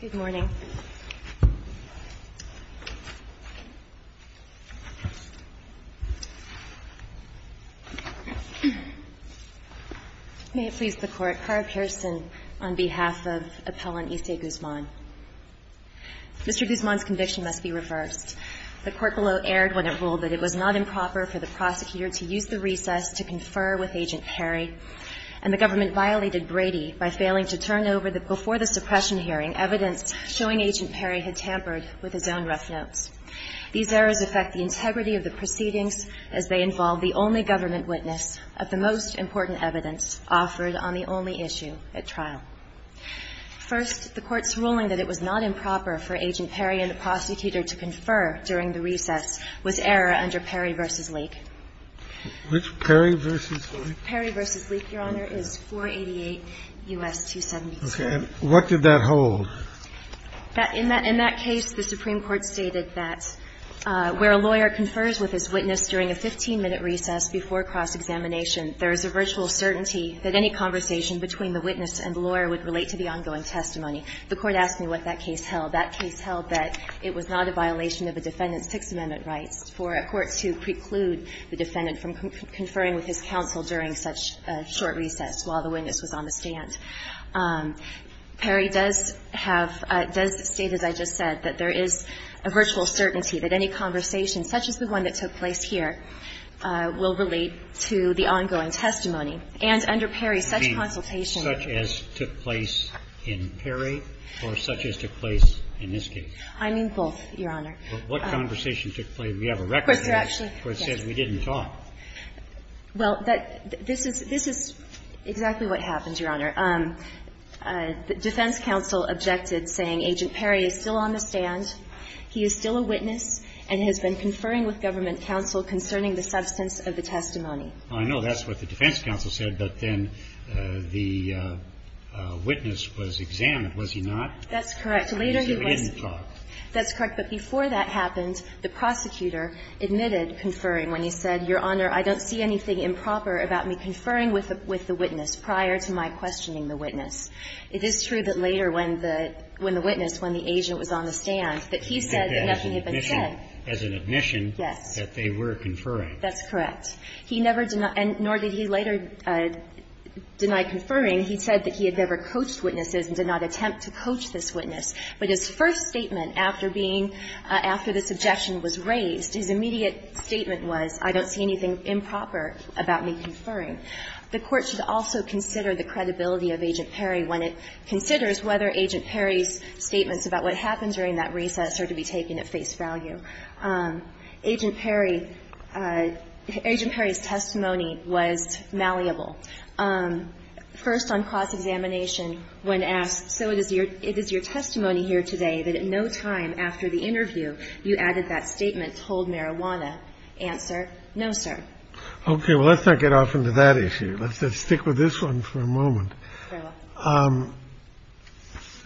Good morning. Mr. Guzman's conviction must be reversed. The court below erred when it ruled that it was not improper for the prosecutor to use the recess to confer with Agent Perry, and the government violated Brady by failing to turn over the, before the suppression hearing, evidence showing Agent Perry had tampered with his own rough notes. These errors affect the integrity of the proceedings as they involve the only government witness of the most important evidence offered on the only issue at trial. First, the court's ruling that it was not improper for Agent Perry and the prosecutor to confer during the recess was error under Perry v. Leake. Which? Perry v. Leake? Perry v. Leake, Your Honor, is 488 U.S. 272. Okay. And what did that hold? In that case, the Supreme Court stated that where a lawyer confers with his witness during a 15-minute recess before cross-examination, there is a virtual certainty that any conversation between the witness and the lawyer would relate to the ongoing testimony. The Court asked me what that case held. That case held that it was not a violation of a defendant's Sixth Amendment rights for a court to preclude the defendant from conferring with his counsel during such a short recess while the witness was on the stand. Perry does have – does state, as I just said, that there is a virtual certainty that any conversation, such as the one that took place here, will relate to the ongoing testimony. And under Perry, such consultation – You mean such as took place in Perry or such as took place in this case? I mean both, Your Honor. What conversation took place? We have a record here. Of course, there actually is. The Court said we didn't talk. Well, that – this is – this is exactly what happened, Your Honor. The defense counsel objected, saying, Agent Perry is still on the stand, he is still a witness, and has been conferring with government counsel concerning the substance of the testimony. Well, I know that's what the defense counsel said, but then the witness was examined, was he not? That's correct. Later, he was – He said we didn't talk. That's correct. But before that happened, the prosecutor admitted conferring, when he said, Your Honor, I don't see anything improper about me conferring with the witness prior to my questioning the witness. It is true that later when the witness, when the agent was on the stand, that he said that nothing had been said. As an admission that they were conferring. Yes. That's correct. He never – nor did he later deny conferring. He said that he had never coached witnesses and did not attempt to coach this witness. But his first statement after being – after the subjection was raised, his immediate statement was, I don't see anything improper about me conferring. The Court should also consider the credibility of Agent Perry when it considers whether Agent Perry's statements about what happened during that recess are to be taken at face value. Agent Perry – Agent Perry's testimony was malleable. First on cross-examination, when asked, So it is your – it is your testimony here today that at no time after the interview, you added that statement, told marijuana. Answer, No, sir. Okay. Well, let's not get off into that issue. Let's stick with this one for a moment.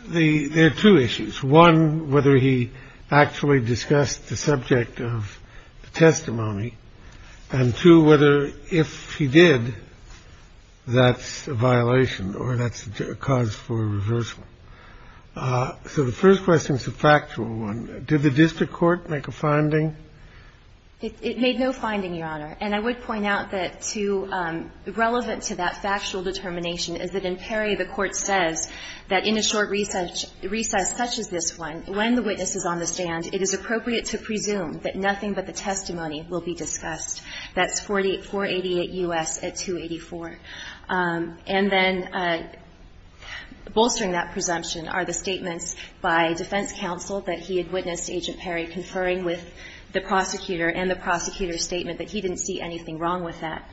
There are two issues. One, whether he actually discussed the subject of the testimony. And two, whether if he did, that's a violation or that's a cause for reversal. So the first question is a factual one. Did the district court make a finding? It made no finding, Your Honor. And I would point out that to – relevant to that factual determination is that in Perry, the Court says that in a short recess such as this one, when the witness is on the stand, it is appropriate to presume that nothing but the testimony will be discussed. That's 488 U.S. at 284. And then bolstering that presumption are the statements by defense counsel that he had witnessed Agent Perry conferring with the prosecutor and the prosecutor's statement that he didn't see anything wrong with that.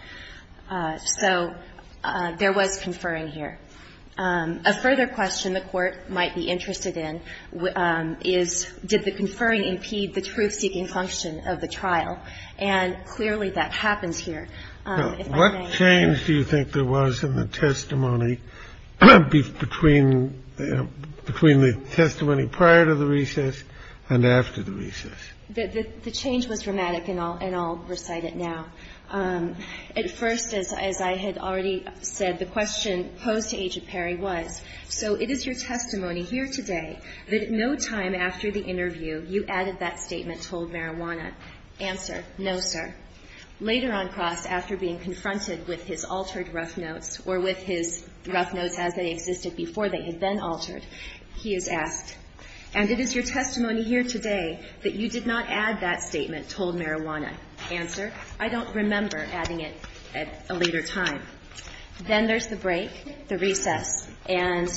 So there was conferring here. A further question the Court might be interested in is did the conferring impede the truth-seeking function of the trial? And clearly, that happens here. If I may, Your Honor. Kennedy, what change do you think there was in the testimony between the testimony prior to the recess and after the recess? The change was dramatic, and I'll recite it now. At first, as I had already said, the question posed to Agent Perry was, so it is your testimony here today that you did not add that statement, told Marijuana, answer. I don't remember adding it at a later time. Then there's the break, the recess. And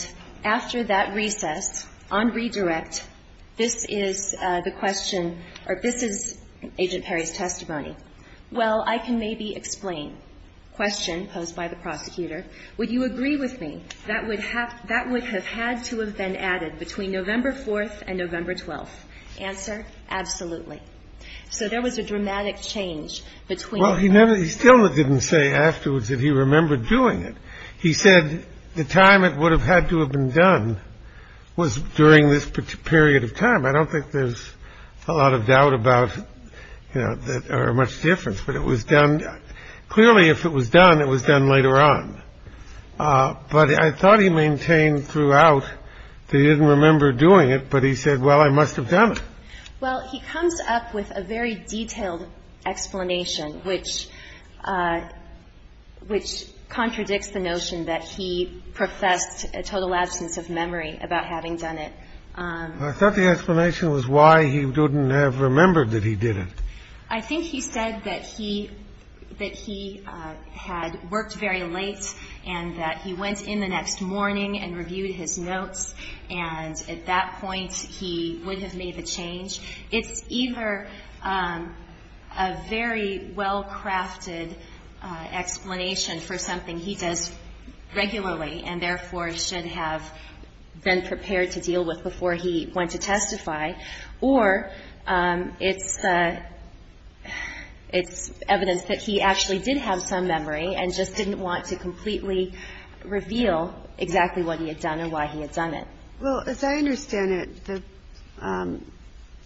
after that recess, on redirect, this statement was added, told Marijuana, Marijuana, answer. This is the question, or this is Agent Perry's testimony. Well, I can maybe explain. Question posed by the prosecutor, would you agree with me that would have had to have been added between November 4th and November 12th? Answer, absolutely. So there was a dramatic change between the two. Well, he never – he still didn't say afterwards that he remembered doing it. He said the time it would have had to have been done was during this period of time. I don't think there's a lot of doubt about – or much difference. But it was done – clearly, if it was done, it was done later on. But I thought he maintained throughout that he didn't remember doing it, but he said, well, I must have done it. Well, he comes up with a very detailed explanation, which contradicts the notion that he professed a total absence of memory about having done it. I thought the explanation was why he wouldn't have remembered that he did it. I think he said that he – that he had worked very late and that he went in the next morning and reviewed his notes, and at that point he would have made the change. It's either a very well-crafted explanation for something he does regularly and therefore should have been prepared to deal with before he went to testify, or it's evidence that he actually did have some memory and just didn't want to completely reveal exactly what he had done and why he had done it. Well, as I understand it,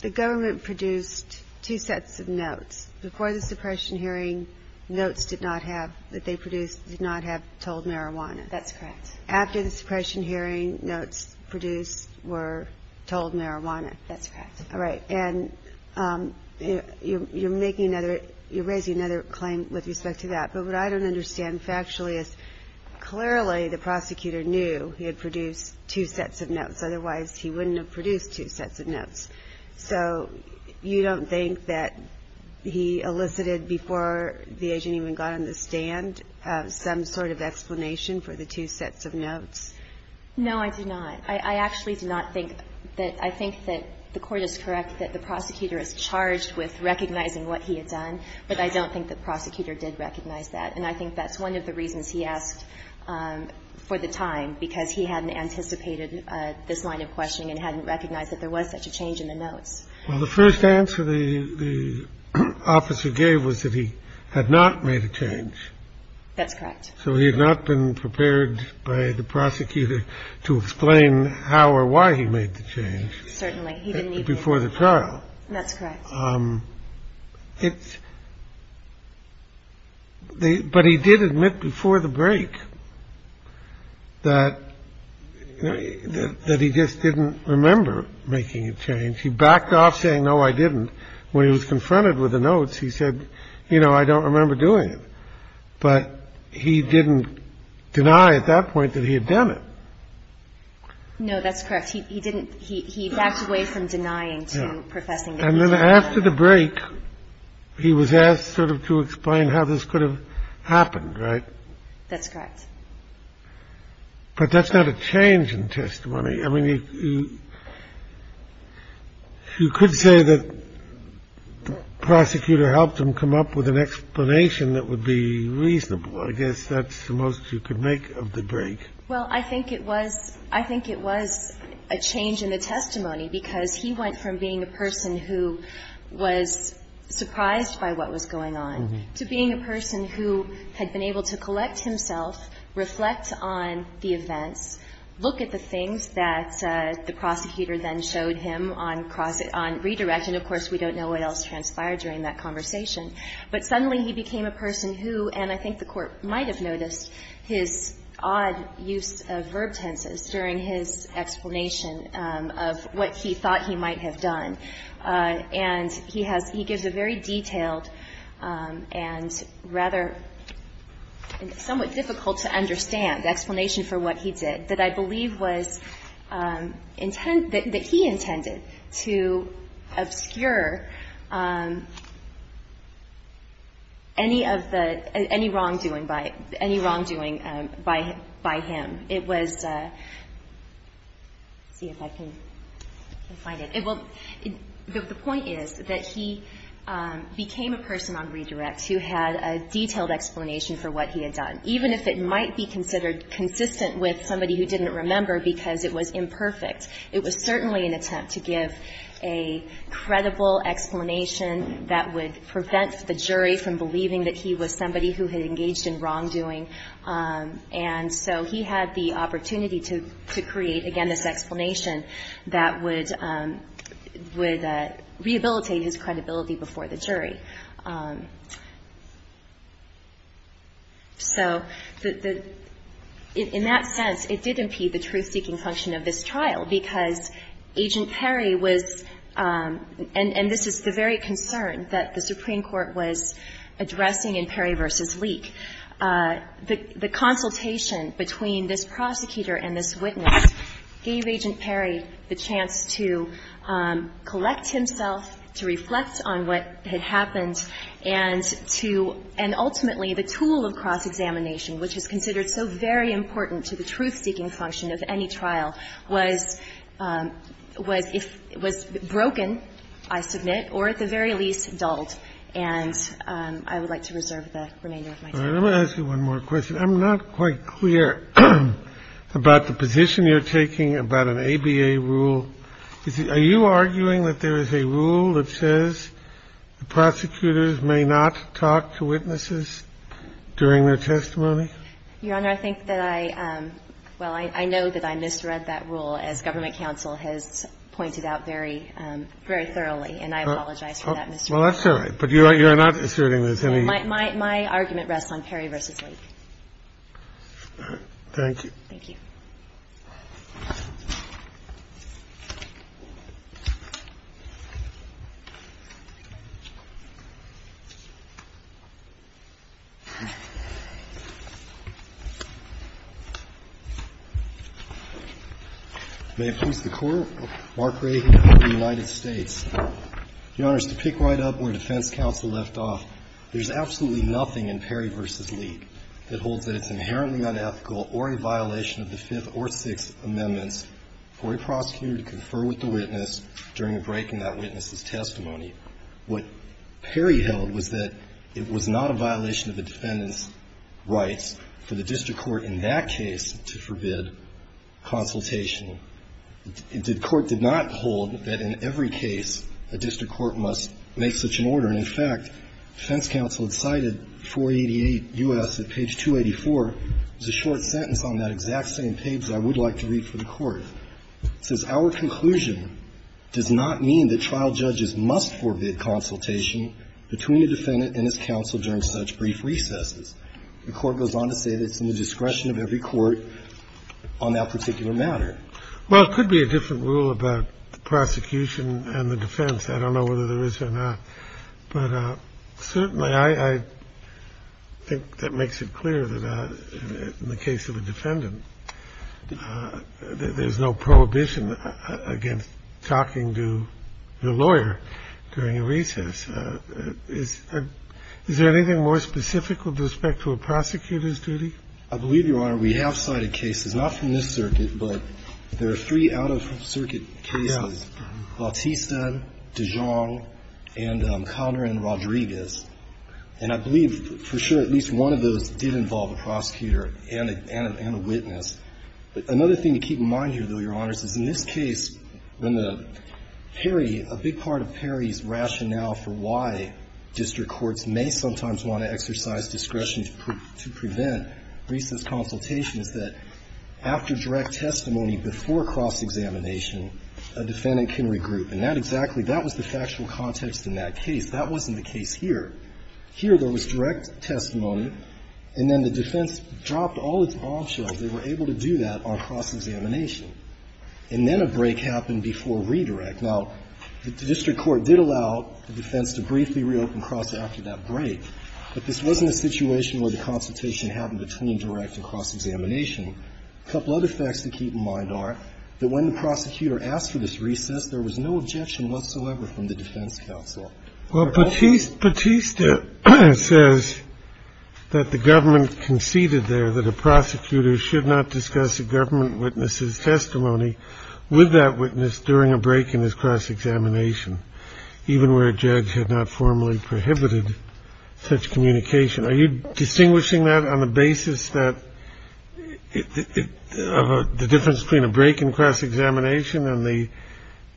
the government produced two sets of notes. Before the suppression hearing, notes did not have – that they produced did not have told marijuana. That's correct. After the suppression hearing, notes produced were told marijuana. That's correct. All right. And you're making another – you're raising another claim with respect to that. But what I don't understand factually is clearly the prosecutor knew he had produced two sets of notes. Otherwise, he wouldn't have produced two sets of notes. So you don't think that he elicited before the agent even got on the stand some sort of explanation for the two sets of notes? No, I do not. I actually do not think that – I think that the Court is correct that the prosecutor is charged with recognizing what he had done, but I don't think the prosecutor did recognize that. And I think that's one of the reasons he asked for the time, because he hadn't anticipated this line of questioning and hadn't recognized that there was such a change in the notes. Well, the first answer the officer gave was that he had not made a change. That's correct. So he had not been prepared by the prosecutor to explain how or why he made the change. Certainly. He didn't even – Before the trial. That's correct. It's – but he did admit before the break that he just didn't remember making a change. He backed off saying, no, I didn't. When he was confronted with the notes, he said, you know, I don't remember doing it. But he didn't deny at that point that he had done it. No, that's correct. He didn't – he backed away from denying to professing that he did. And then after the break, he was asked sort of to explain how this could have happened, right? That's correct. But that's not a change in testimony. I mean, you could say that the prosecutor helped him come up with an explanation that would be reasonable. I guess that's the most you could make of the break. Well, I think it was – I think it was a change in the testimony because he went from being a person who was surprised by what was going on to being a person who had been able to collect himself, reflect on the events, look at the things that the prosecutor then showed him on cross – on redirect. And, of course, we don't know what else transpired during that conversation. But suddenly he became a person who – and I think the Court might have noticed his odd use of verb tenses during his explanation of what he thought he might have done. And he has – he gives a very detailed and rather somewhat difficult to understand explanation for what he did that I believe was – that he intended to obscure any of the – any wrongdoing by – any wrongdoing by him. It was – let's see if I can find it. The point is that he became a person on redirect who had a detailed explanation for what he had done. Even if it might be considered consistent with somebody who didn't remember because it was imperfect, it was certainly an attempt to give a credible explanation that would prevent the jury from believing that he was somebody who had engaged in wrongdoing. And so he had the opportunity to create, again, this explanation that would rehabilitate his credibility before the jury. So the – in that sense, it did impede the truth-seeking function of this trial because Agent Perry was – and this is the very concern that the Supreme Court was concerned about. The consultation between this prosecutor and this witness gave Agent Perry the chance to collect himself, to reflect on what had happened, and to – and ultimately the tool of cross-examination, which is considered so very important to the truth-seeking function of any trial, was – was broken, I submit, or at the very least dulled. I'm sorry. Let me ask you one more question. I'm not quite clear about the position you're taking about an ABA rule. Are you arguing that there is a rule that says the prosecutors may not talk to witnesses during their testimony? Your Honor, I think that I – well, I know that I misread that rule, as government counsel has pointed out very, very thoroughly, and I apologize for that misreading. Well, that's all right. But you're not asserting there's any – My – my argument rests on Perry v. Lake. Thank you. Thank you. May it please the Court. Mark Ray here from the United States. Your Honors, to pick right up where defense counsel left off, there's absolutely nothing in Perry v. Lake that holds that it's inherently unethical or a violation of the Fifth or Sixth Amendments for a prosecutor to confer with the witness during a break in that witness's testimony. What Perry held was that it was not a violation of the defendant's rights for the district court in that case to forbid consultation. The court did not hold that in every case a district court must make such an order. And, in fact, defense counsel had cited 488 U.S. at page 284. It's a short sentence on that exact same page that I would like to read for the Court. It says, Our conclusion does not mean that trial judges must forbid consultation between the defendant and his counsel during such brief recesses. The Court goes on to say that it's in the discretion of every court on that particular matter. Well, it could be a different rule about the prosecution and the defense. I don't know whether there is or not. But certainly I think that makes it clear that in the case of a defendant, there's no prohibition against talking to the lawyer during a recess. Is there anything more specific with respect to a prosecutor's duty? I believe, Your Honor, we have cited cases, not from this circuit, but there are three out-of-circuit cases, Bautista, Dijon, and Conner and Rodriguez. And I believe, for sure, at least one of those did involve a prosecutor and a witness. But another thing to keep in mind here, though, Your Honors, is in this case, when Perry, a big part of Perry's rationale for why district courts may sometimes want to exercise discretion to prevent recess consultation is that after direct testimony before cross-examination, a defendant can regroup. And that exactly, that was the factual context in that case. That wasn't the case here. Here, there was direct testimony, and then the defense dropped all its bombshells. They were able to do that on cross-examination. And then a break happened before redirect. Now, the district court did allow the defense to briefly reopen cross after that break. But this wasn't a situation where the consultation happened between direct and cross-examination. A couple other facts to keep in mind are that when the prosecutor asked for this recess, there was no objection whatsoever from the defense counsel. Well, Bautista says that the government conceded there that a prosecutor should not discuss a government witness's testimony with that witness during a break in his cross-examination, even where a judge had not formally prohibited such communication. Are you distinguishing that on the basis that the difference between a break in cross-examination and the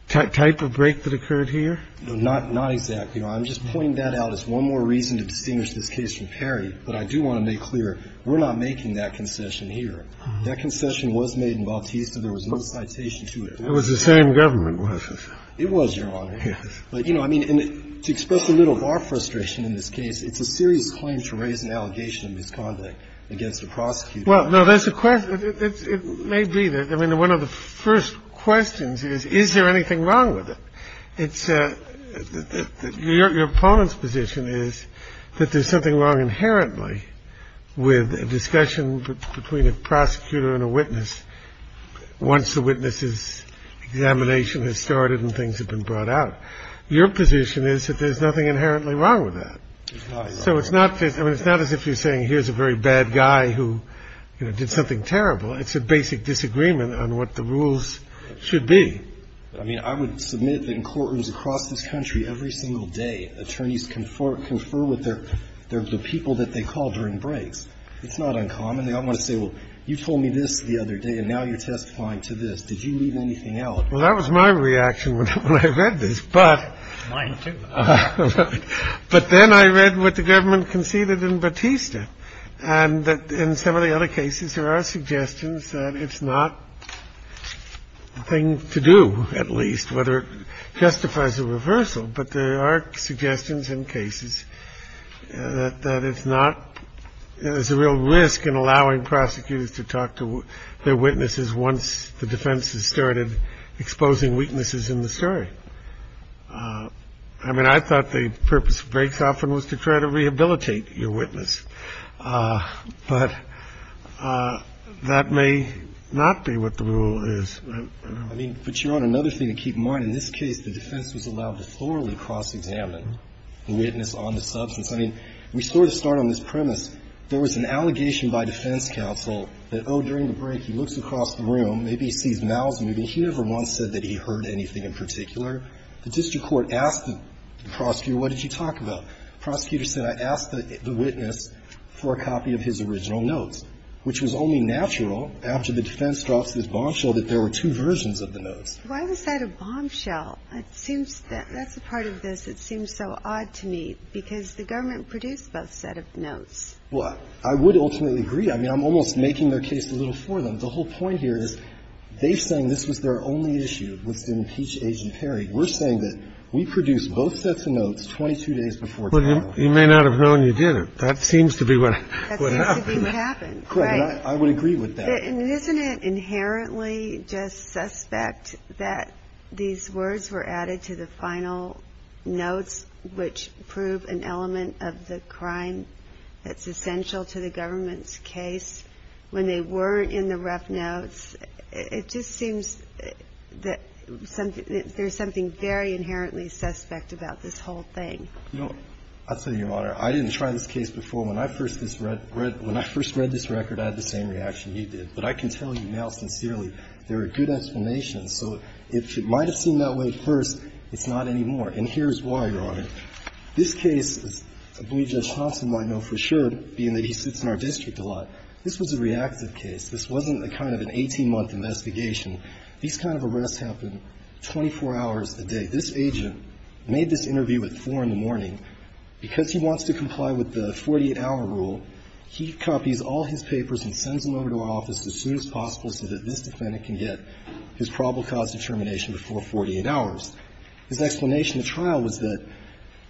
type of break that occurred here? Not exactly. I'm just pointing that out as one more reason to distinguish this case from Perry. But I do want to make clear, we're not making that concession here. That concession was made in Bautista. There was no citation to it. It was the same government witness. It was, Your Honor. Yes. But, you know, I mean, to express a little of our frustration in this case, it's a serious claim to raise an allegation of misconduct against a prosecutor. Well, no, there's a question. It may be that. I mean, one of the first questions is, is there anything wrong with it? Your opponent's position is that there's something wrong inherently with a discussion between a prosecutor and a witness once the witness's examination has started and things have been brought out. Your position is that there's nothing inherently wrong with that. There's not. So it's not as if you're saying here's a very bad guy who, you know, did something terrible. It's a basic disagreement on what the rules should be. I mean, I would submit that in courtrooms across this country every single day, attorneys confer with the people that they call during breaks. It's not uncommon. They don't want to say, well, you told me this the other day and now you're testifying to this. Did you leave anything out? Well, that was my reaction when I read this, but. Mine, too. But then I read what the government conceded in Bautista and that in some of the other cases there are suggestions that it's not a thing to do, at least, whether it justifies a reversal. But there are suggestions in cases that it's not. There's a real risk in allowing prosecutors to talk to their witnesses once the defense has started exposing weaknesses in the story. I mean, I thought the purpose of breaks often was to try to rehabilitate your witness. But that may not be what the rule is. I mean, but, Your Honor, another thing to keep in mind, in this case the defense was allowed to thoroughly cross-examine the witness on the substance. I mean, we sort of start on this premise. There was an allegation by defense counsel that, oh, during the break he looks across the room, maybe he sees mouths moving. He never once said that he heard anything in particular. The district court asked the prosecutor, what did you talk about? The prosecutor said, I asked the witness for a copy of his original notes, which was only natural after the defense drops this bombshell that there were two versions of the notes. Why was that a bombshell? It seems that's a part of this that seems so odd to me, because the government produced both sets of notes. Well, I would ultimately agree. I mean, I'm almost making their case a little for them. The whole point here is they're saying this was their only issue with impeach Agent Perry. We're saying that we produced both sets of notes 22 days before trial. But you may not have known you did. That seems to be what happened. Right. I would agree with that. And isn't it inherently just suspect that these words were added to the final notes which prove an element of the crime that's essential to the government's case when they weren't in the rough notes? It just seems that there's something very inherently suspect about this whole thing. You know, I'll tell you, Your Honor, I didn't try this case before. And when I first read this record, I had the same reaction you did. But I can tell you now, sincerely, there are good explanations. So if it might have seemed that way at first, it's not anymore. And here's why, Your Honor. This case, as B.J. Shonson might know for sure, being that he sits in our district a lot, this was a reactive case. This wasn't a kind of an 18-month investigation. These kind of arrests happen 24 hours a day. This agent made this interview at 4 in the morning. And because he wants to comply with the 48-hour rule, he copies all his papers and sends them over to our office as soon as possible so that this defendant can get his probable cause determination before 48 hours. His explanation at trial was that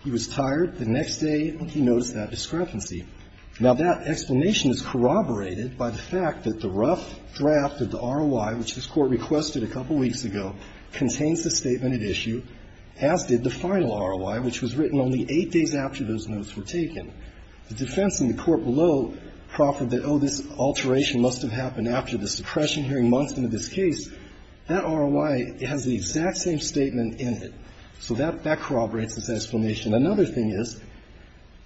he was tired the next day and he noticed that discrepancy. Now, that explanation is corroborated by the fact that the rough draft of the ROI, which this Court requested a couple weeks ago, contains the statement at issue, as did the final ROI, which was written only eight days after those notes were taken. The defense in the court below proffered that, oh, this alteration must have happened after the suppression hearing months into this case. That ROI has the exact same statement in it. So that corroborates this explanation. Another thing is,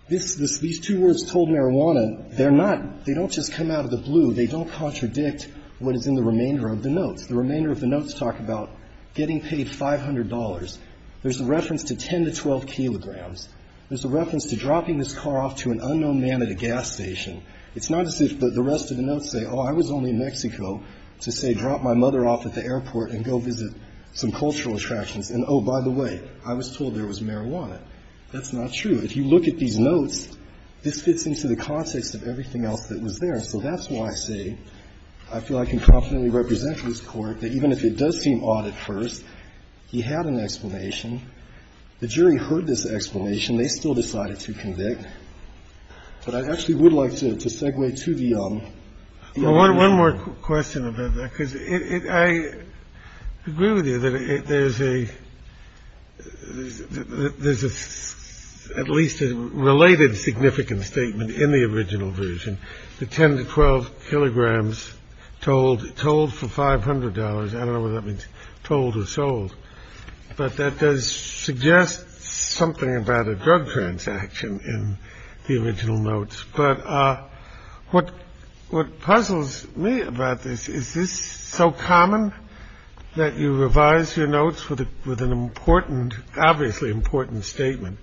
this, these two words, told marijuana, they're not, they don't just come out of the blue. They don't contradict what is in the remainder of the notes. The remainder of the notes talk about getting paid $500. There's a reference to 10 to 12 kilograms. There's a reference to dropping this car off to an unknown man at a gas station. It's not as if the rest of the notes say, oh, I was only in Mexico to say drop my mother off at the airport and go visit some cultural attractions. And, oh, by the way, I was told there was marijuana. That's not true. If you look at these notes, this fits into the context of everything else that was So that's why I say I feel I can confidently represent this Court that even if it does seem odd at first, he had an explanation. The jury heard this explanation. They still decided to convict. But I actually would like to segue to the other one. Kennedy. Well, one more question about that, because I agree with you that there's a, there's at least a related significant statement in the original version. The 10 to 12 kilograms told told for $500. I don't know what that means. Told or sold. But that does suggest something about a drug transaction in the original notes. But what what puzzles me about this is this so common that you revise your notes with it with an important, obviously important statement.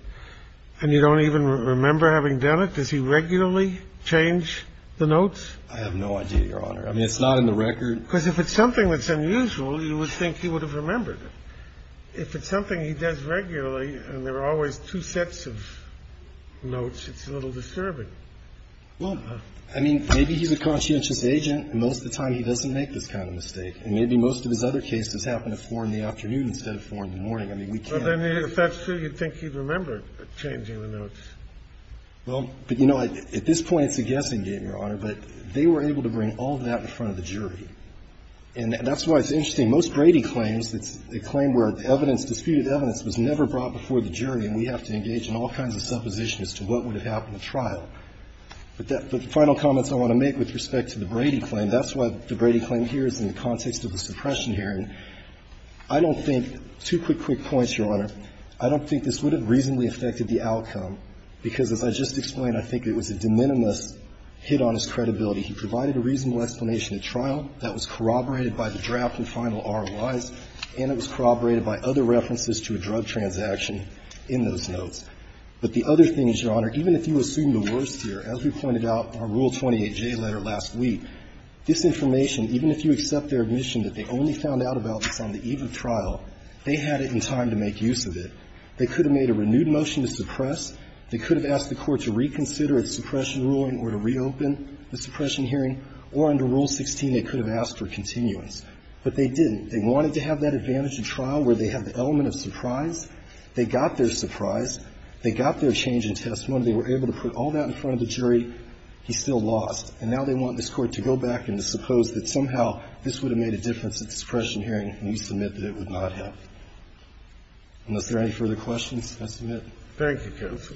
And you don't even remember having done it. Does he regularly change the notes? I have no idea, Your Honor. I mean, it's not in the record. Because if it's something that's unusual, you would think he would have remembered it. If it's something he does regularly and there are always two sets of notes, it's a little disturbing. Well, I mean, maybe he's a conscientious agent. Most of the time he doesn't make this kind of mistake. And maybe most of his other cases happen at 4 in the afternoon instead of 4 in the morning. I mean, we can't. I don't remember changing the notes. Well, but, you know, at this point it's a guessing game, Your Honor. But they were able to bring all that in front of the jury. And that's why it's interesting. Most Brady claims, it's a claim where evidence, disputed evidence was never brought before the jury and we have to engage in all kinds of supposition as to what would have happened at trial. But the final comments I want to make with respect to the Brady claim, that's why the Brady claim here is in the context of the suppression hearing. I don't think, two quick, quick points, Your Honor. I don't think this would have reasonably affected the outcome, because as I just explained, I think it was a de minimis hit on his credibility. He provided a reasonable explanation at trial that was corroborated by the draft and final ROIs, and it was corroborated by other references to a drug transaction in those notes. But the other thing is, Your Honor, even if you assume the worst here, as we pointed out in our Rule 28J letter last week, this information, even if you accept their They had it in time to make use of it. They could have made a renewed motion to suppress. They could have asked the Court to reconsider its suppression ruling or to reopen the suppression hearing. Or under Rule 16, they could have asked for continuance. But they didn't. They wanted to have that advantage in trial where they have the element of surprise. They got their surprise. They got their change in testimony. They were able to put all that in front of the jury. He's still lost. And now they want this Court to go back and to suppose that somehow this would have made a difference at the suppression hearing, and you submit that it would not have. Unless there are any further questions, I submit. Thank you, counsel.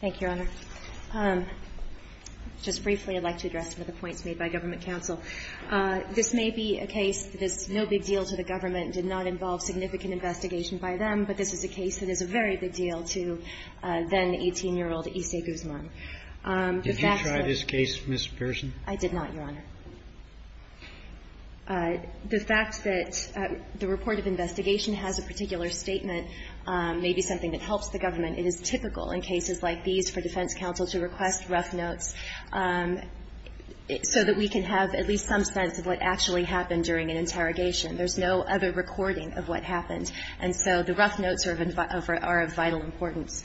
Thank you, Your Honor. Just briefly, I'd like to address some of the points made by government counsel. This may be a case that is no big deal to the government, did not involve significant investigation by them, but this is a case that is a very big deal to then-18-year-old Issei Guzman. Did you try this case, Ms. Pearson? I did not, Your Honor. The fact that the report of investigation has a particular statement may be something that helps the government. It is typical in cases like these for defense counsel to request rough notes so that we can have at least some sense of what actually happened during an interrogation. There's no other recording of what happened. And so the rough notes are of vital importance.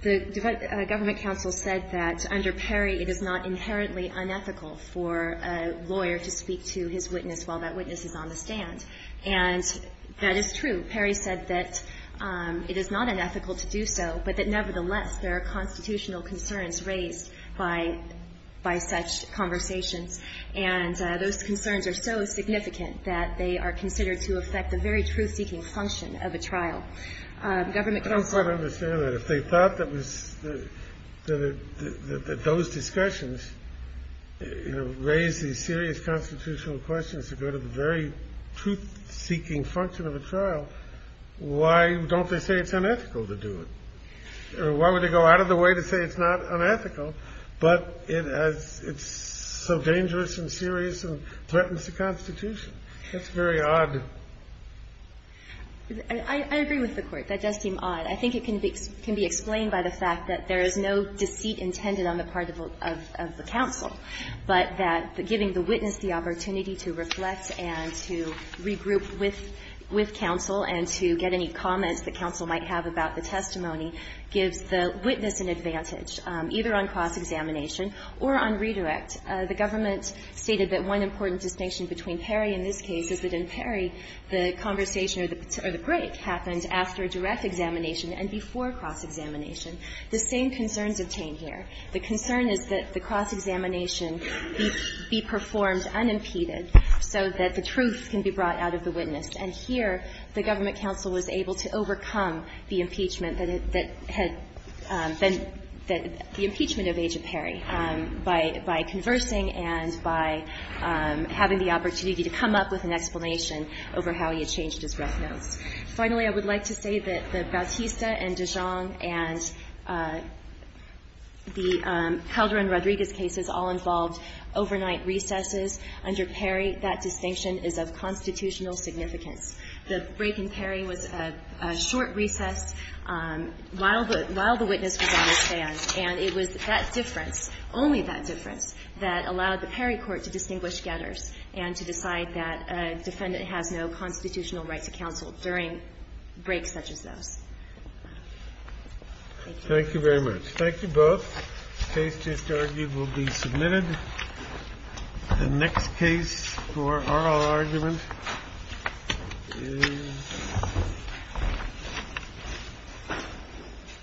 The government counsel said that under Perry, it is not inherently unethical for a lawyer to speak to his witness while that witness is on the stand. And that is true. Perry said that it is not unethical to do so, but that nevertheless, there are constitutional concerns raised by such conversations. And those concerns are so significant that they are considered to affect the very truth-seeking function of a trial. Government counsel said that. I don't quite understand that. If they thought that those discussions raised these serious constitutional questions to go to the very truth-seeking function of a trial, why don't they say it's unethical to do it? Why would they go out of the way to say it's not unethical, but it has so dangerous and serious and threatens the Constitution? That's very odd. I agree with the Court. That does seem odd. I think it can be explained by the fact that there is no deceit intended on the part of the counsel, but that giving the witness the opportunity to reflect and to regroup with counsel and to get any comments that counsel might have about the testimony gives the witness an advantage, either on cross-examination or on redirect. The government stated that one important distinction between Perry and this case is that in Perry, the conversation or the break happened after a direct examination and before cross-examination. The same concerns obtain here. The concern is that the cross-examination be performed unimpeded so that the truth can be brought out of the witness. And here, the government counsel was able to overcome the impeachment that had been the impeachment of Aja Perry by conversing and by having the opportunity to come up with an explanation over how he had changed his breath notes. Finally, I would like to say that the Bautista and Dijon and the Calderon-Rodriguez cases all involved overnight recesses under Perry. I would like to reiterate that distinction is of constitutional significance. The break in Perry was a short recess while the witness was on the stand, and it was that difference, only that difference, that allowed the Perry court to distinguish getters and to decide that a defendant has no constitutional right to counsel during breaks such as those. Thank you. Thank you very much. Thank you both. The case just argued will be submitted. The next case for oral argument is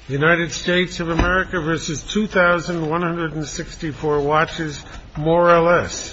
the United States of America versus 2,164 more or less. Thank you.